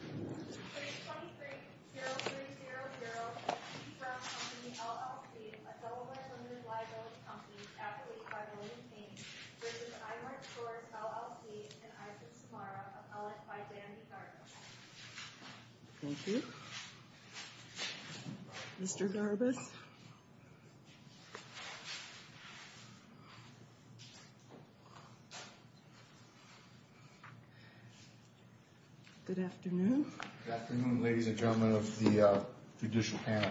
Page 23, 0300, Eby-Brown Company, LLC, a Delaware Women's Library Company, advocated by Melinda Payne, v. Imart Stores, LLC, and Isaac Samara, appellate by Dandy Garbus. Thank you. Mr. Garbus. Good afternoon. Good afternoon, ladies and gentlemen of the judicial panel.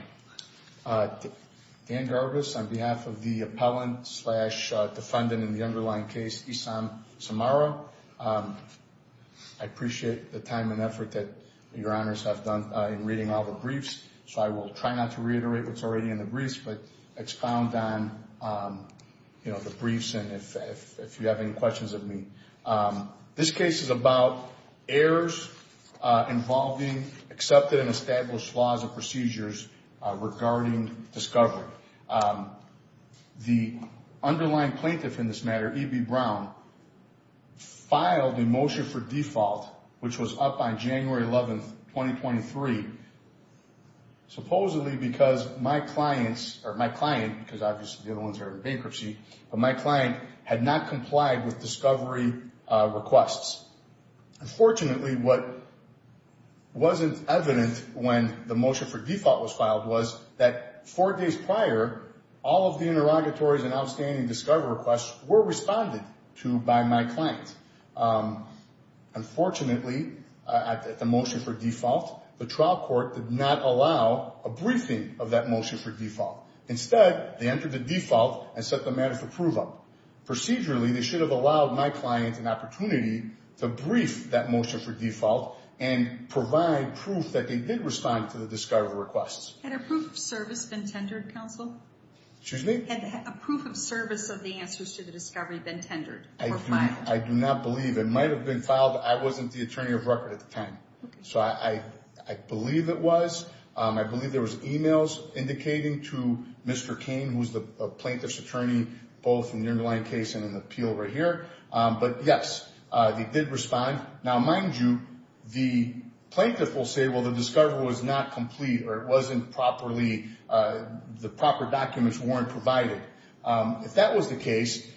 Dan Garbus on behalf of the appellant slash defendant in the underlying case, Issam Samara. I appreciate the time and effort that your honors have done in reading all the briefs, so I will try not to reiterate what's already in the briefs, but expound on, you know, the briefs and if you have any questions of me. This case is about errors involving accepted and established laws and procedures regarding discovery. The underlying plaintiff in this matter, Eby-Brown, filed a motion for default, which was up on January 11, 2023, supposedly because my clients, or my client, because obviously the other ones are in bankruptcy, but my client had not complied with discovery requests. Unfortunately, what wasn't evident when the motion for default was filed was that four days prior, all of the interrogatories and outstanding discovery requests were responded to by my client. Unfortunately, at the motion for default, the trial court did not allow a briefing of that motion for default. Instead, they entered the default and set the matter for prove-up. Procedurally, they should have allowed my client an opportunity to brief that motion for default and provide proof that they did respond to the discovery requests. Had a proof of service been tendered, counsel? Excuse me? Had a proof of service of the answers to the discovery been tendered or filed? I do not believe. It might have been filed. I wasn't the attorney of record at the time, so I believe it was. I believe there was emails indicating to Mr. Cain, who's the plaintiff's attorney, both in the underlying case and in the appeal right here. But, yes, they did respond. Now, mind you, the plaintiff will say, well, the discovery was not complete, or it wasn't properly, the proper documents weren't provided. If that was the case,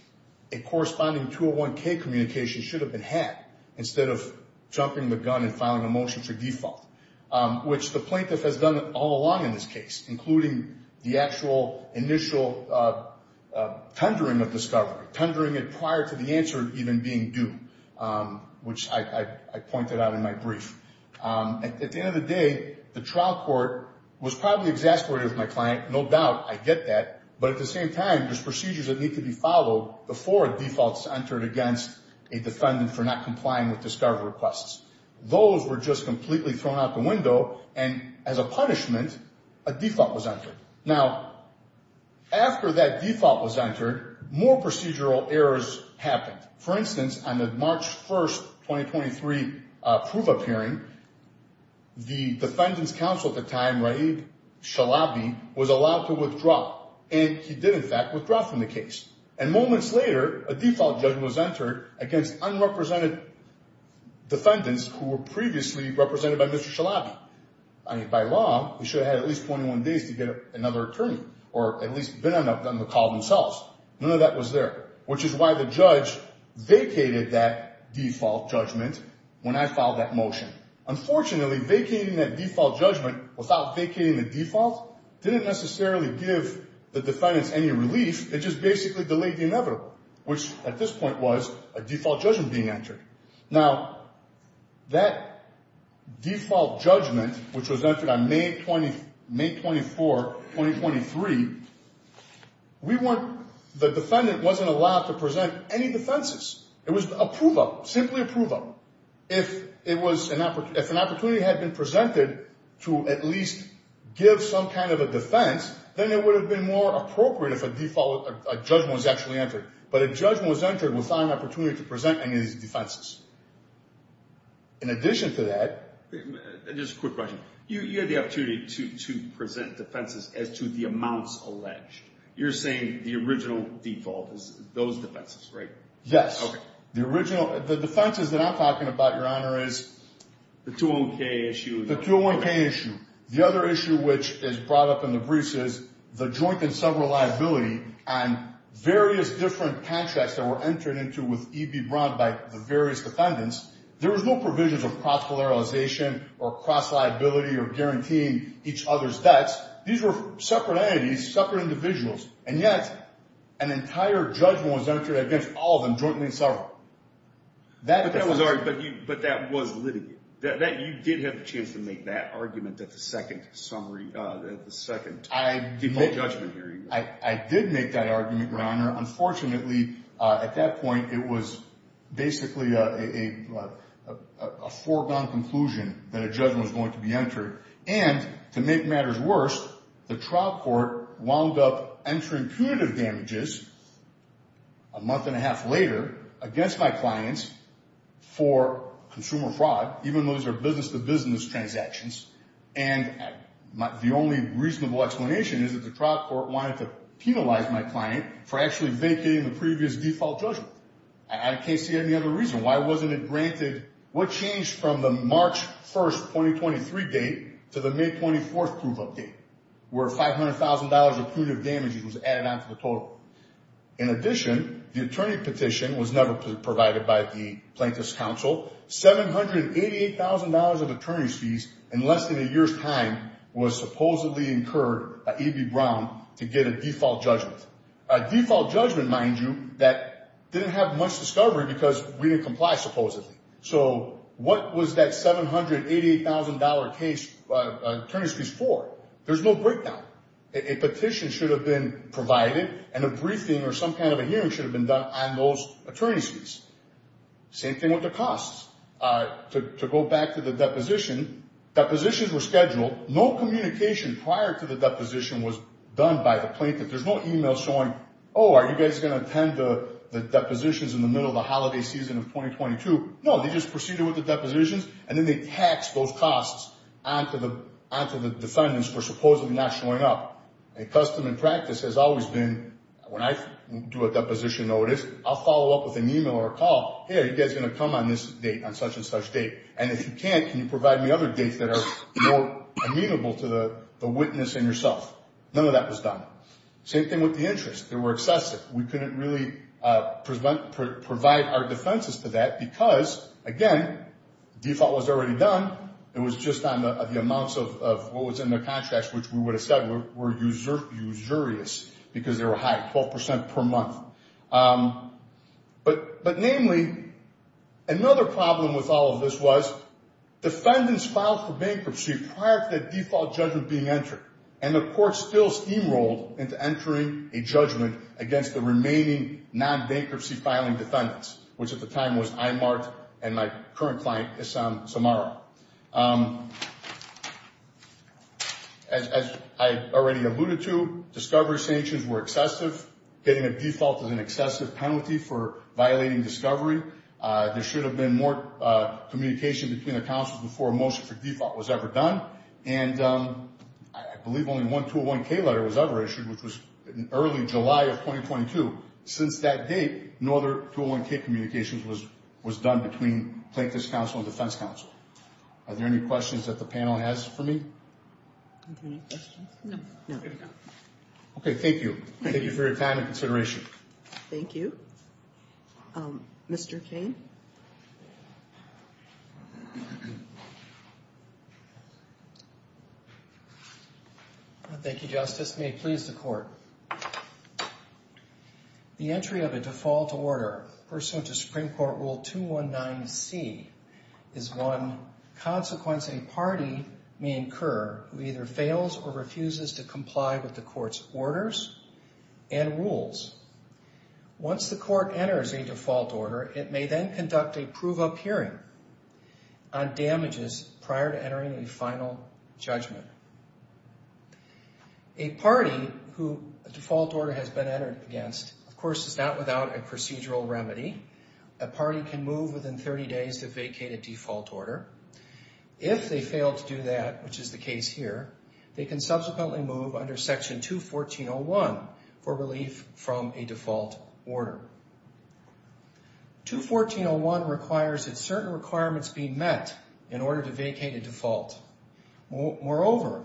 a corresponding 201K communication should have been had instead of jumping the gun and filing a motion for default, which the plaintiff has done all along in this case, including the actual initial tendering of discovery, tendering it prior to the answer even being due, which I pointed out in my brief. At the end of the day, the trial court was probably exasperated with my client. No doubt, I get that. But at the same time, there's procedures that need to be followed before a default is entered against a defendant for not complying with discovery requests. Those were just completely thrown out the window, and as a punishment, a default was entered. Now, after that default was entered, more procedural errors happened. For instance, on the March 1, 2023, proof of hearing, the defendant's counsel at the time, Raib Shalabi, was allowed to withdraw, and he did, in fact, withdraw from the case. And moments later, a default judgment was entered against unrepresented defendants who were previously represented by Mr. Shalabi. By law, they should have had at least 21 days to get another attorney or at least been on the call themselves. None of that was there, which is why the judge vacated that default judgment when I filed that motion. Unfortunately, vacating that default judgment without vacating the default didn't necessarily give the defendants any relief. It just basically delayed the inevitable, which at this point was a default judgment being entered. Now, that default judgment, which was entered on May 24, 2023, the defendant wasn't allowed to present any defenses. It was a prove-up, simply a prove-up. If an opportunity had been presented to at least give some kind of a defense, then it would have been more appropriate if a judgment was actually entered. But a judgment was entered without an opportunity to present any of these defenses. In addition to that, Just a quick question. You had the opportunity to present defenses as to the amounts alleged. You're saying the original default is those defenses, right? Yes. Okay. The defenses that I'm talking about, Your Honor, is the 201K issue. The 201K issue. The other issue which is brought up in the briefs is the joint and several liability and various different contracts that were entered into with EB Braun by the various defendants. There was no provisions of cross-polarization or cross-liability or guaranteeing each other's debts. These were separate entities, separate individuals, and yet an entire judgment was entered against all of them, jointly and several. But that was litigated. You did have a chance to make that argument at the second summary, the second default judgment hearing. I did make that argument, Your Honor. Unfortunately, at that point, it was basically a foregone conclusion that a judgment was going to be entered. And to make matters worse, the trial court wound up entering punitive damages a month and a half later against my clients for consumer fraud, even though those are business-to-business transactions. And the only reasonable explanation is that the trial court wanted to penalize my client for actually vacating the previous default judgment. I can't see any other reason. Why wasn't it granted? What changed from the March 1, 2023 date to the May 24th proof of date, where $500,000 of punitive damages was added on to the total? In addition, the attorney petition was never provided by the Plaintiff's Counsel. $788,000 of attorney's fees in less than a year's time was supposedly incurred by E.B. Brown to get a default judgment. A default judgment, mind you, that didn't have much discovery because we didn't comply, supposedly. So what was that $788,000 case attorney's fees for? There's no breakdown. A petition should have been provided, and a briefing or some kind of a hearing should have been done on those attorney's fees. Same thing with the costs. To go back to the deposition, depositions were scheduled. No communication prior to the deposition was done by the Plaintiff. There's no email showing, oh, are you guys going to attend the depositions in the middle of the holiday season of 2022? No, they just proceeded with the depositions, and then they taxed those costs on to the defendants for supposedly not showing up. And custom and practice has always been, when I do a deposition notice, I'll follow up with an email or a call, hey, are you guys going to come on this date, on such and such date? And if you can't, can you provide me other dates that are more amenable to the witness and yourself? None of that was done. Same thing with the interest. They were excessive. We couldn't really provide our defenses to that because, again, default was already done. It was just on the amounts of what was in the contracts, which we would have said were usurious, because they were high, 12% per month. But namely, another problem with all of this was defendants filed for bankruptcy prior to that default judgment being entered, and the court still steamrolled into entering a judgment against the remaining non-bankruptcy filing defendants, which at the time was Imart and my current client, Issam Samara. As I already alluded to, discovery sanctions were excessive. Getting a default is an excessive penalty for violating discovery. There should have been more communication between the counsels before a motion for default was ever done. And I believe only one 201-K letter was ever issued, which was in early July of 2022. Since that date, no other 201-K communications was done between Plaintiff's counsel and defense counsel. Are there any questions that the panel has for me? Okay, thank you. Thank you for your time and consideration. Thank you. Mr. King? Thank you, Justice. May it please the Court. The entry of a default order pursuant to Supreme Court Rule 219C is one consequence a party may incur who either fails or refuses to comply with the court's orders and rules. Once the court enters a default order, it may then conduct a prove-up hearing on damages prior to entering a final judgment. A party who a default order has been entered against, of course, is not without a procedural remedy. A party can move within 30 days to vacate a default order. If they fail to do that, which is the case here, they can subsequently move under Section 214.01 for relief from a default order. 214.01 requires that certain requirements be met in order to vacate a default. Moreover,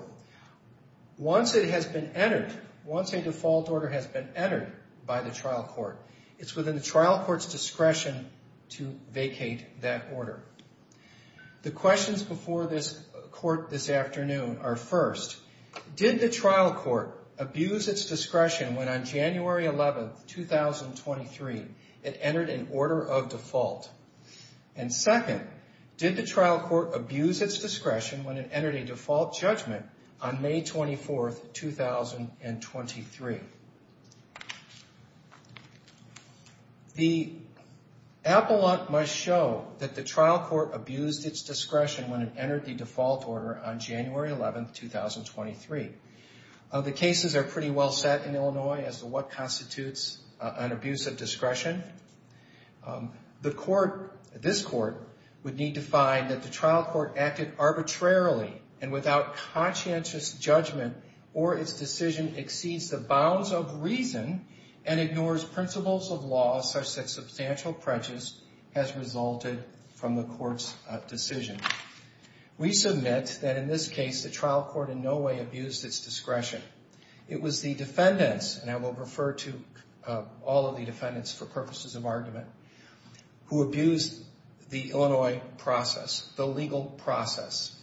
once it has been entered, once a default order has been entered by the trial court, it's within the trial court's discretion to vacate that order. The questions before this Court this afternoon are first, did the trial court abuse its discretion when on January 11, 2023, it entered an order of default? And second, did the trial court abuse its discretion when it entered a default judgment on May 24, 2023? The Appalach must show that the trial court abused its discretion when it entered the default order on January 11, 2023. The cases are pretty well set in Illinois as to what constitutes an abuse of discretion. This Court would need to find that the trial court acted arbitrarily and without conscientious judgment or its decision exceeds the bounds of reason and ignores principles of law such that substantial prejudice has resulted from the Court's decision. We submit that in this case, the trial court in no way abused its discretion. It was the defendants, and I will refer to all of the defendants for purposes of argument, who abused the Illinois process, the legal process.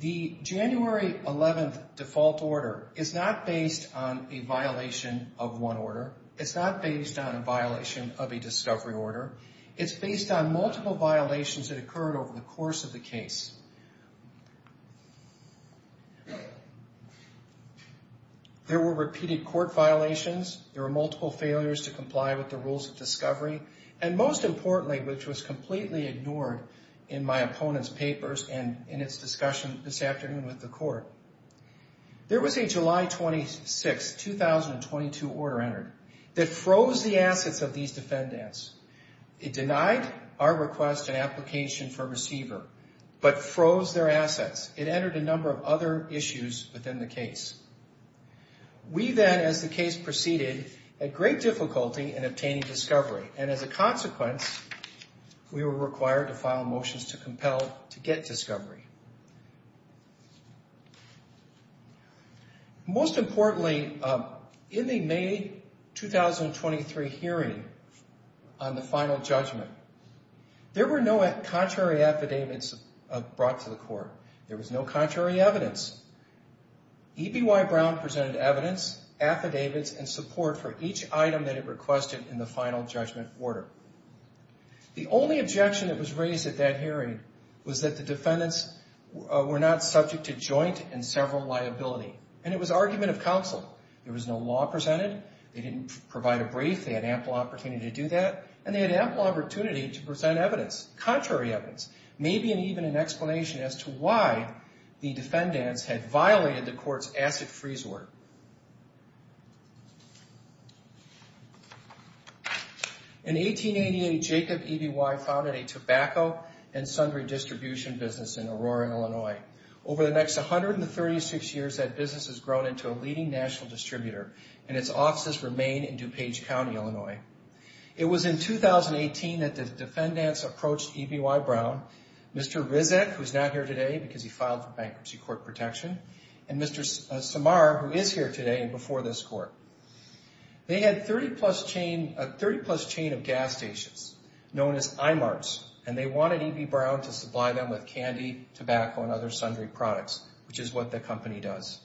The January 11 default order is not based on a violation of one order. It's not based on a violation of a discovery order. It's based on multiple violations that occurred over the course of the case. There were repeated court violations. There were multiple failures to comply with the rules of discovery, and most importantly, which was completely ignored in my opponent's papers and in its discussion this afternoon with the Court, there was a July 26, 2022 order entered that froze the assets of these defendants. It denied our request and application for receiver but froze their assets. It entered a number of other issues within the case. We then, as the case proceeded, had great difficulty in obtaining discovery, and as a consequence, we were required to file motions to compel to get discovery. Most importantly, in the May 2023 hearing on the final judgment, there were no contrary affidavits brought to the Court. There was no contrary evidence. EBY Brown presented evidence, affidavits, and support for each item that it requested in the final judgment order. The only objection that was raised at that hearing was that the defendants were not subject to joint and several liability, and it was argument of counsel. There was no law presented. They didn't provide a brief. They had ample opportunity to do that, and they had ample opportunity to present evidence, contrary evidence, maybe even an explanation as to why the defendants had violated the Court's asset freeze order. In 1888, Jacob EBY founded a tobacco and sundry distribution business in Aurora, Illinois. Over the next 136 years, that business has grown into a leading national distributor, and its offices remain in DuPage County, Illinois. It was in 2018 that the defendants approached EBY Brown, Mr. Rizek, who is not here today because he filed for bankruptcy court protection, and Mr. Samar, who is here today and before this Court. They had a 30-plus chain of gas stations known as IMARTs, and they wanted EBY Brown to supply them with candy, tobacco, and other sundry products, which is what the company does.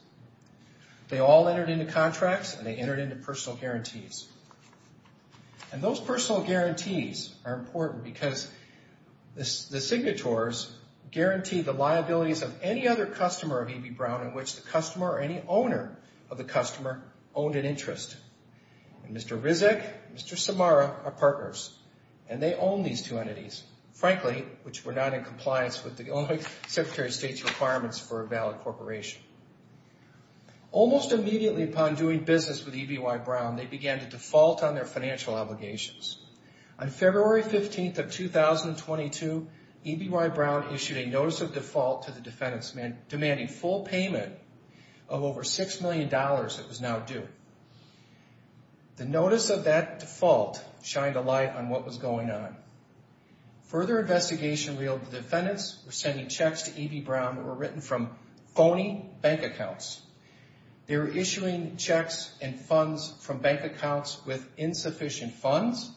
They all entered into contracts, and they entered into personal guarantees. And those personal guarantees are important because the signatories guarantee the liabilities of any other customer of EBY Brown in which the customer or any owner of the customer owned an interest. And Mr. Rizek and Mr. Samar are partners, and they own these two entities, frankly, which were not in compliance with the Illinois Secretary of State's requirements for a valid corporation. Almost immediately upon doing business with EBY Brown, they began to default on their financial obligations. On February 15th of 2022, EBY Brown issued a notice of default to the defendants, demanding full payment of over $6 million that was now due. The notice of that default shined a light on what was going on. Further investigation revealed the defendants were sending checks to EBY Brown that were written from phony bank accounts. They were issuing checks and funds from bank accounts with insufficient funds,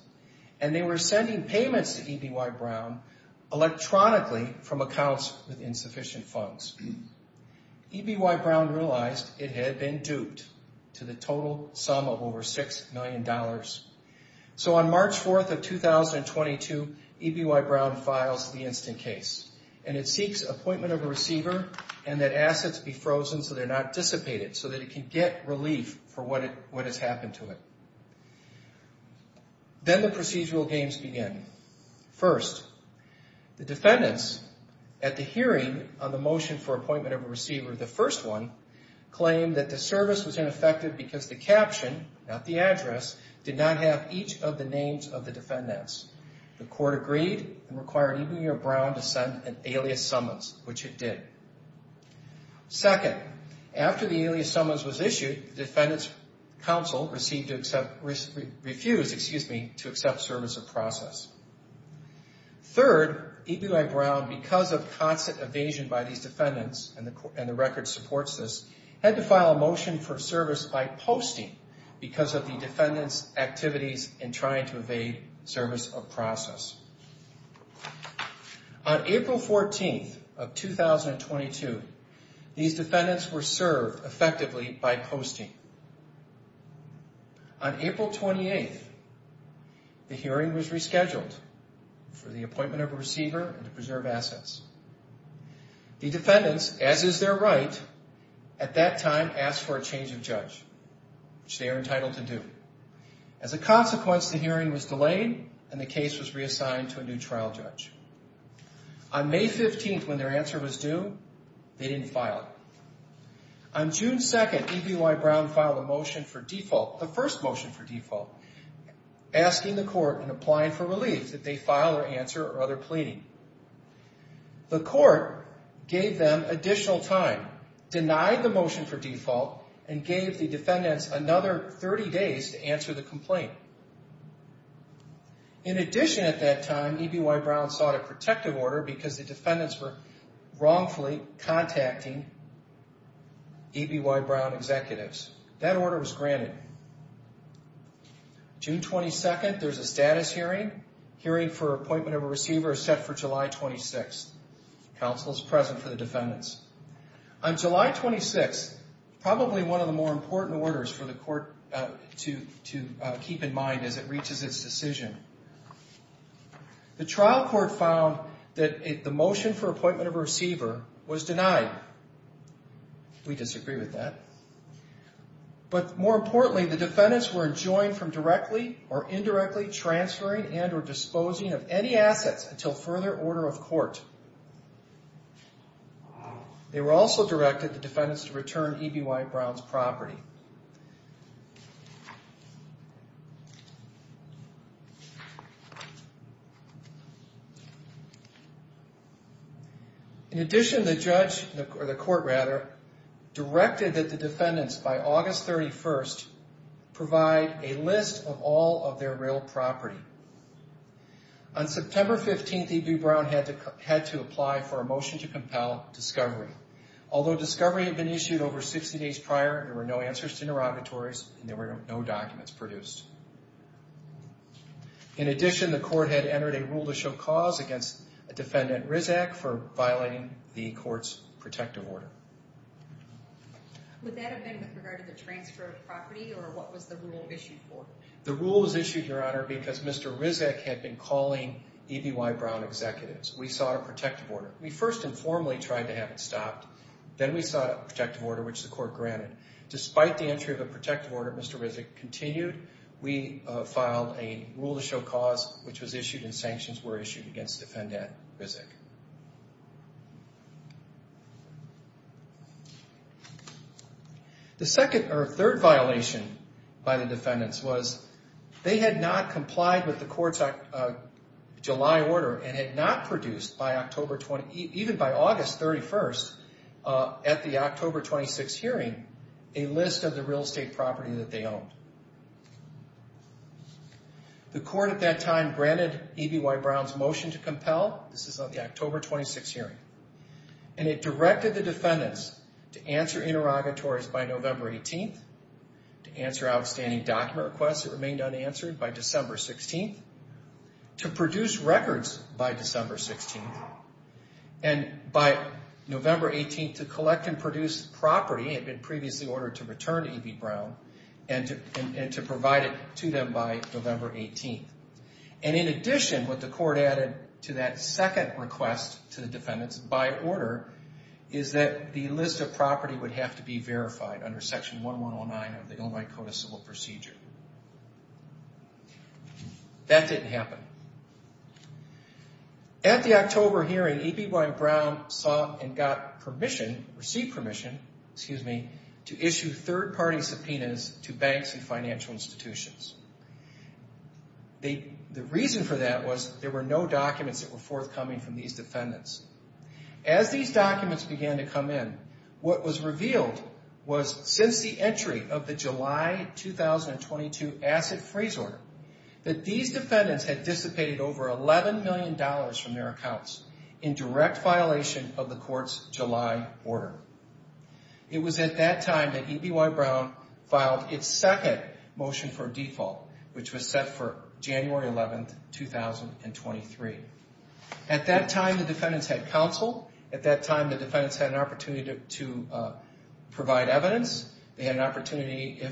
and they were sending payments to EBY Brown electronically from accounts with insufficient funds. EBY Brown realized it had been duped to the total sum of over $6 million. So on March 4th of 2022, EBY Brown files the instant case, and it seeks appointment of a receiver and that assets be frozen so they're not dissipated, so that it can get relief for what has happened to it. Then the procedural games begin. First, the defendants, at the hearing on the motion for appointment of a receiver, the first one, claimed that the service was ineffective because the caption, not the address, did not have each of the names of the defendants. The court agreed and required EBY Brown to send an alias summons, which it did. Second, after the alias summons was issued, the defendants' counsel refused to accept service of process. Third, EBY Brown, because of constant evasion by these defendants, and the record supports this, had to file a motion for service by posting because of the defendants' activities in trying to evade service of process. On April 14th of 2022, these defendants were served effectively by posting. On April 28th, the hearing was rescheduled for the appointment of a receiver and to preserve assets. The defendants, as is their right, at that time asked for a change of judge, which they are entitled to do. As a consequence, the hearing was delayed and the case was reassigned to a new trial judge. On May 15th, when their answer was due, they didn't file. On June 2nd, EBY Brown filed a motion for default, the first motion for default, asking the court and applying for relief that they file their answer or other pleading. The court gave them additional time, denied the motion for default, and gave the defendants another 30 days to answer the complaint. In addition, at that time, EBY Brown sought a protective order because the defendants were wrongfully contacting EBY Brown executives. That order was granted. June 22nd, there's a status hearing. Hearing for appointment of a receiver is set for July 26th. Counsel is present for the defendants. On July 26th, probably one of the more important orders for the court to keep in mind as it reaches its decision, the trial court found that the motion for appointment of a receiver was denied. We disagree with that. But more importantly, the defendants were enjoined from directly or indirectly transferring and or disposing of any assets until further order of court. They were also directed, the defendants, to return EBY Brown's property. In addition, the court directed that the defendants, by August 31st, provide a list of all of their real property. On September 15th, EBY Brown had to apply for a motion to compel discovery. Although discovery had been issued over 60 days prior, there were no answers to interrogatories and there were no documents produced. In addition, the court had entered a rule to show cause against a defendant, Rizak, for violating the court's protective order. Would that have been with regard to the transfer of property or what was the rule issued for? The rule was issued, Your Honor, because Mr. Rizak had been calling EBY Brown executives. We sought a protective order. We first informally tried to have it stopped. Then we sought a protective order, which the court granted. Despite the entry of a protective order, Mr. Rizak continued. We filed a rule to show cause, which was issued and sanctions were issued against the defendant, Rizak. The second or third violation by the defendants was they had not complied with the court's July order and had not produced, even by August 31st, at the October 26th hearing, a list of the real estate property that they owned. The court at that time granted EBY Brown's motion to compel. This is on the October 26th hearing. And it directed the defendants to answer interrogatories by November 18th, to answer outstanding document requests that remained unanswered by December 16th, to produce records by December 16th, and by November 18th to collect and produce property that had been previously ordered to return to EBY Brown and to provide it to them by November 18th. And in addition, what the court added to that second request to the defendants by order is that the list of property would have to be verified under Section 1109 of the Illinois Code of Civil Procedure. That didn't happen. At the October hearing, EBY Brown saw and got permission, received permission, excuse me, to issue third-party subpoenas to banks and financial institutions. The reason for that was there were no documents that were forthcoming from these defendants. As these documents began to come in, what was revealed was since the entry of the July 2022 asset freeze order that these defendants had dissipated over $11 million from their accounts in direct violation of the court's July order. It was at that time that EBY Brown filed its second motion for default, which was set for January 11th, 2023. At that time, the defendants had counsel. At that time, the defendants had an opportunity to provide evidence. They had an opportunity,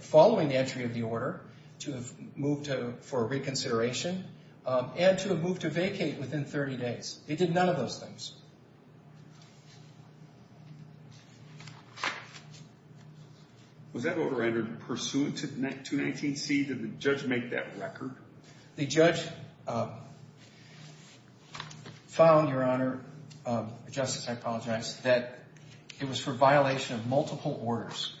following the entry of the order, to have moved for reconsideration and to have moved to vacate within 30 days. They did none of those things. Was that order entered pursuant to 219C? Did the judge make that record? The judge found, Your Honor, Justice, I apologize, that it was for violation of multiple orders.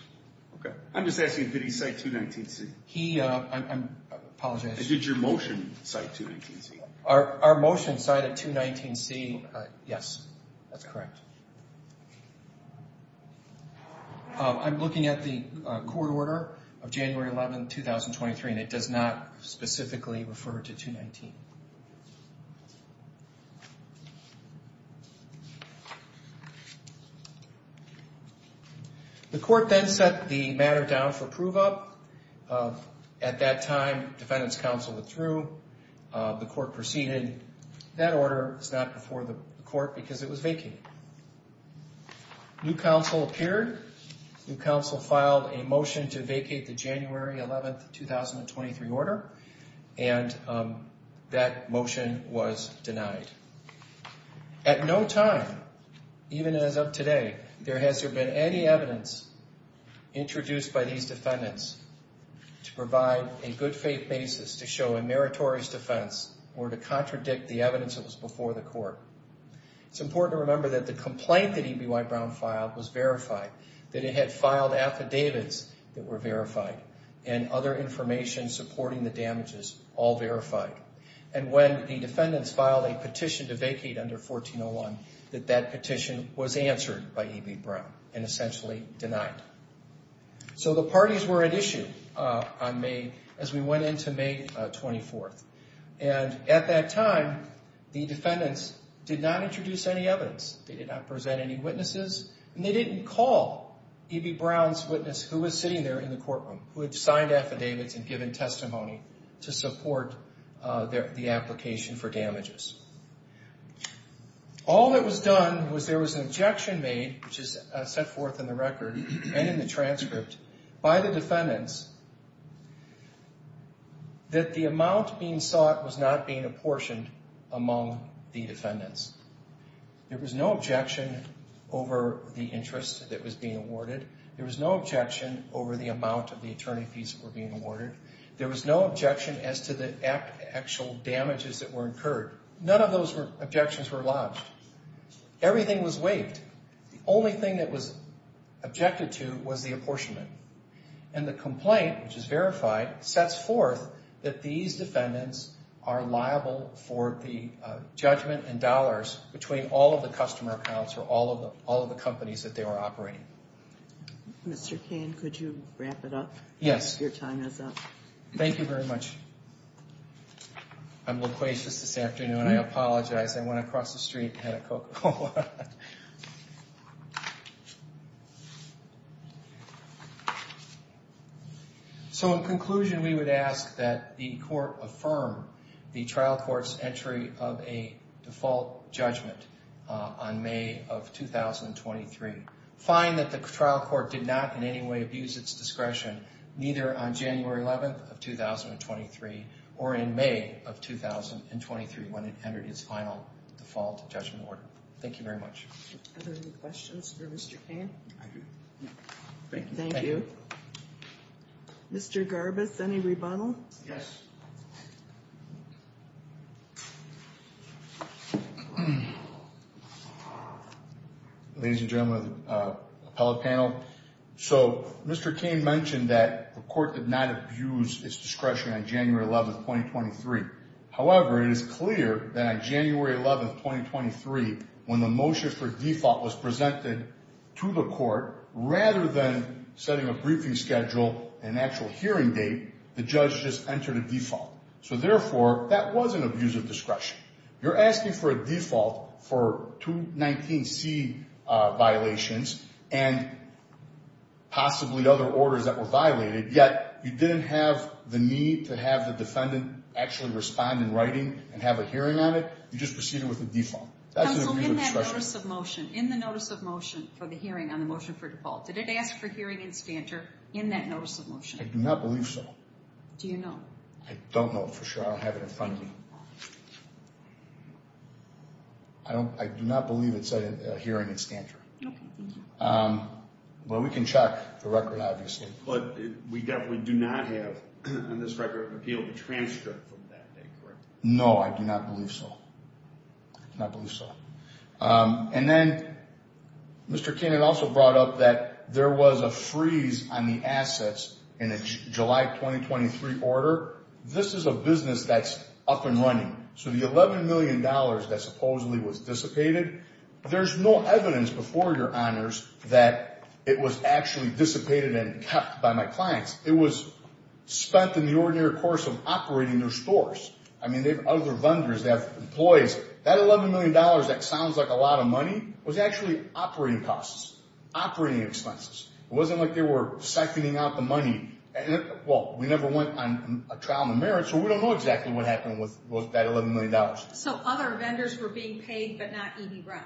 Okay. I'm just asking, did he cite 219C? He, I'm apologizing. Did your motion cite 219C? Our motion cited 219C, yes, that's correct. I'm looking at the court order of January 11th, 2023, and it does not specifically refer to 219. The court then set the matter down for prove-up. At that time, defendants' counsel withdrew. The court proceeded. That order is not before the court because it was vacated. New counsel appeared. New counsel filed a motion to vacate the January 11th, 2023 order, and that motion was denied. At no time, even as of today, there has there been any evidence introduced by these defendants to provide a good faith basis to show a meritorious defense or to contradict the evidence that was before the court. It's important to remember that the complaint that E.B. Whitebrown filed was verified, that it had filed affidavits that were verified, and other information supporting the damages, all verified. And when the defendants filed a petition to vacate under 1401, that that petition was answered by E.B. Brown and essentially denied. So the parties were at issue on May, as we went into May 24th. And at that time, the defendants did not introduce any evidence. They did not present any witnesses, and they didn't call E.B. Brown's witness who was sitting there in the courtroom, who had signed affidavits and given testimony to support the application for damages. All that was done was there was an objection made, which is set forth in the record and in the transcript, by the defendants that the amount being sought was not being apportioned among the defendants. There was no objection over the interest that was being awarded. There was no objection over the amount of the attorney fees that were being awarded. There was no objection as to the actual damages that were incurred. None of those objections were lodged. Everything was waived. The only thing that was objected to was the apportionment. And the complaint, which is verified, sets forth that these defendants are liable for the judgment in dollars between all of the customer accounts for all of the companies that they were operating. Mr. Cain, could you wrap it up? Yes. Your time is up. Thank you very much. I'm loquacious this afternoon. I apologize. I went across the street and had a Coca-Cola. So, in conclusion, we would ask that the court affirm the trial court's entry of a default judgment on May of 2023. Find that the trial court did not in any way abuse its discretion, neither on January 11th of 2023 or in May of 2023, when it entered its final default judgment order. Thank you very much. Are there any questions for Mr. Cain? I do. Thank you. Thank you. Mr. Garbus, any rebuttal? Yes. Ladies and gentlemen of the appellate panel, so Mr. Cain mentioned that the court did not abuse its discretion on January 11th, 2023. However, it is clear that on January 11th, 2023, when the motion for default was presented to the court, rather than setting a briefing schedule and actual hearing date, the judge just entered a default. So, therefore, that was an abuse of discretion. You're asking for a default for 219C violations and possibly other orders that were violated, yet you didn't have the need to have the defendant actually respond in writing and have a hearing on it. You just proceeded with a default. That's an abuse of discretion. In the notice of motion for the hearing on the motion for default, did it ask for hearing and stancher in that notice of motion? I do not believe so. Do you know? I don't know for sure. I don't have it in front of me. I do not believe it said hearing and stancher. Okay. Well, we can check the record, obviously. But we definitely do not have on this record an appeal to transfer from that date, correct? No, I do not believe so. I do not believe so. And then Mr. King had also brought up that there was a freeze on the assets in a July 2023 order. This is a business that's up and running. So the $11 million that supposedly was dissipated, there's no evidence before your honors that it was actually dissipated and kept by my clients. It was spent in the ordinary course of operating their stores. I mean, they have other vendors that have employees. That $11 million, that sounds like a lot of money, was actually operating costs, operating expenses. It wasn't like they were seconding out the money. Well, we never went on a trial in the merits, so we don't know exactly what happened with that $11 million. So other vendors were being paid but not EB Brown?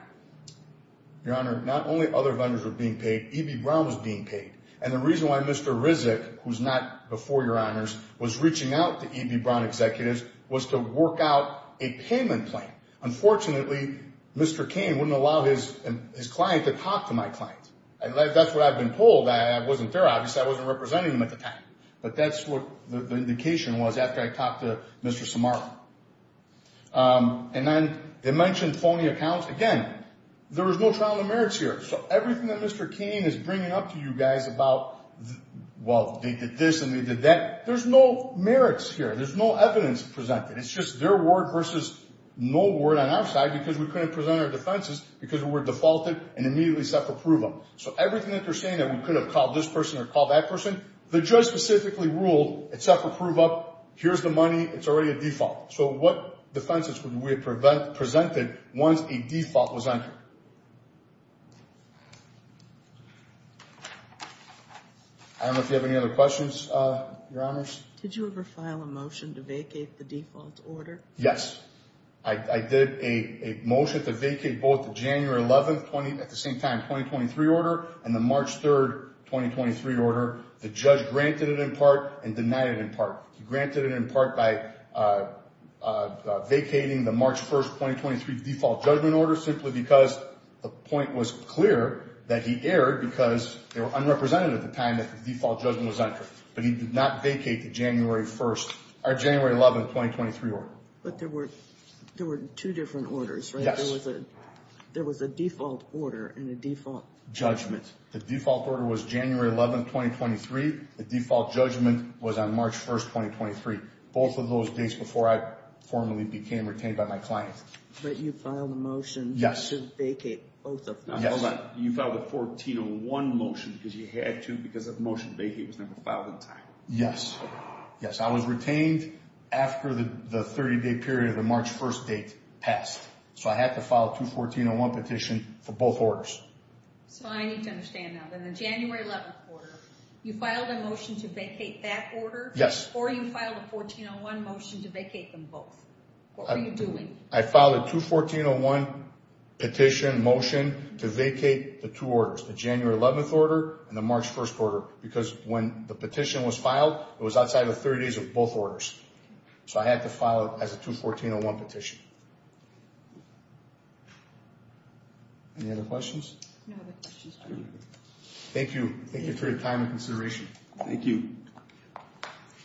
Your honor, not only other vendors were being paid, EB Brown was being paid. And the reason why Mr. Rizek, who's not before your honors, was reaching out to EB Brown executives was to work out a payment plan. Unfortunately, Mr. King wouldn't allow his client to talk to my client. That's what I've been told. I wasn't there. Obviously, I wasn't representing him at the time. But that's what the indication was after I talked to Mr. Samara. And then they mentioned phony accounts. Again, there was no trial in the merits here. So everything that Mr. King is bringing up to you guys about, well, they did this and they did that, there's no merits here. There's no evidence presented. It's just their word versus no word on our side because we couldn't present our defenses because we were defaulted and immediately self-approved them. So everything that they're saying that we could have called this person or called that person, the judge specifically ruled it self-approved up. Here's the money. It's already a default. So what defenses would we have presented once a default was entered? I don't know if you have any other questions, Your Honors. Did you ever file a motion to vacate the default order? Yes. I did a motion to vacate both the January 11th, at the same time, 2023 order and the March 3rd, 2023 order. The judge granted it in part and denied it in part. He granted it in part by vacating the March 1st, 2023 default judgment order simply because the point was clear that he erred because they were unrepresentative at the time that the default judgment was entered. But he did not vacate the January 1st or January 11th, 2023 order. But there were two different orders, right? Yes. There was a default order and a default judgment. The default order was January 11th, 2023. The default judgment was on March 1st, 2023. Both of those dates before I formally became retained by my client. But you filed a motion to vacate both of those. Hold on. You filed a 1401 motion because you had to because that motion to vacate was never filed in time. Yes. Yes, I was retained after the 30-day period of the March 1st date passed. So I had to file a 21401 petition for both orders. So I need to understand now. In the January 11th order, you filed a motion to vacate that order? Yes. Or you filed a 1401 motion to vacate them both? What were you doing? I filed a 21401 petition motion to vacate the two orders, the January 11th order and the March 1st order. Because when the petition was filed, it was outside the 30 days of both orders. So I had to file it as a 21401 petition. Any other questions? No other questions. Thank you. Thank you for your time and consideration. Thank you.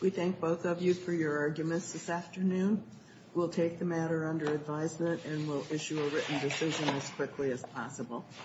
We thank both of you for your arguments this afternoon. We'll take the matter under advisement and we'll issue a written decision as quickly as possible.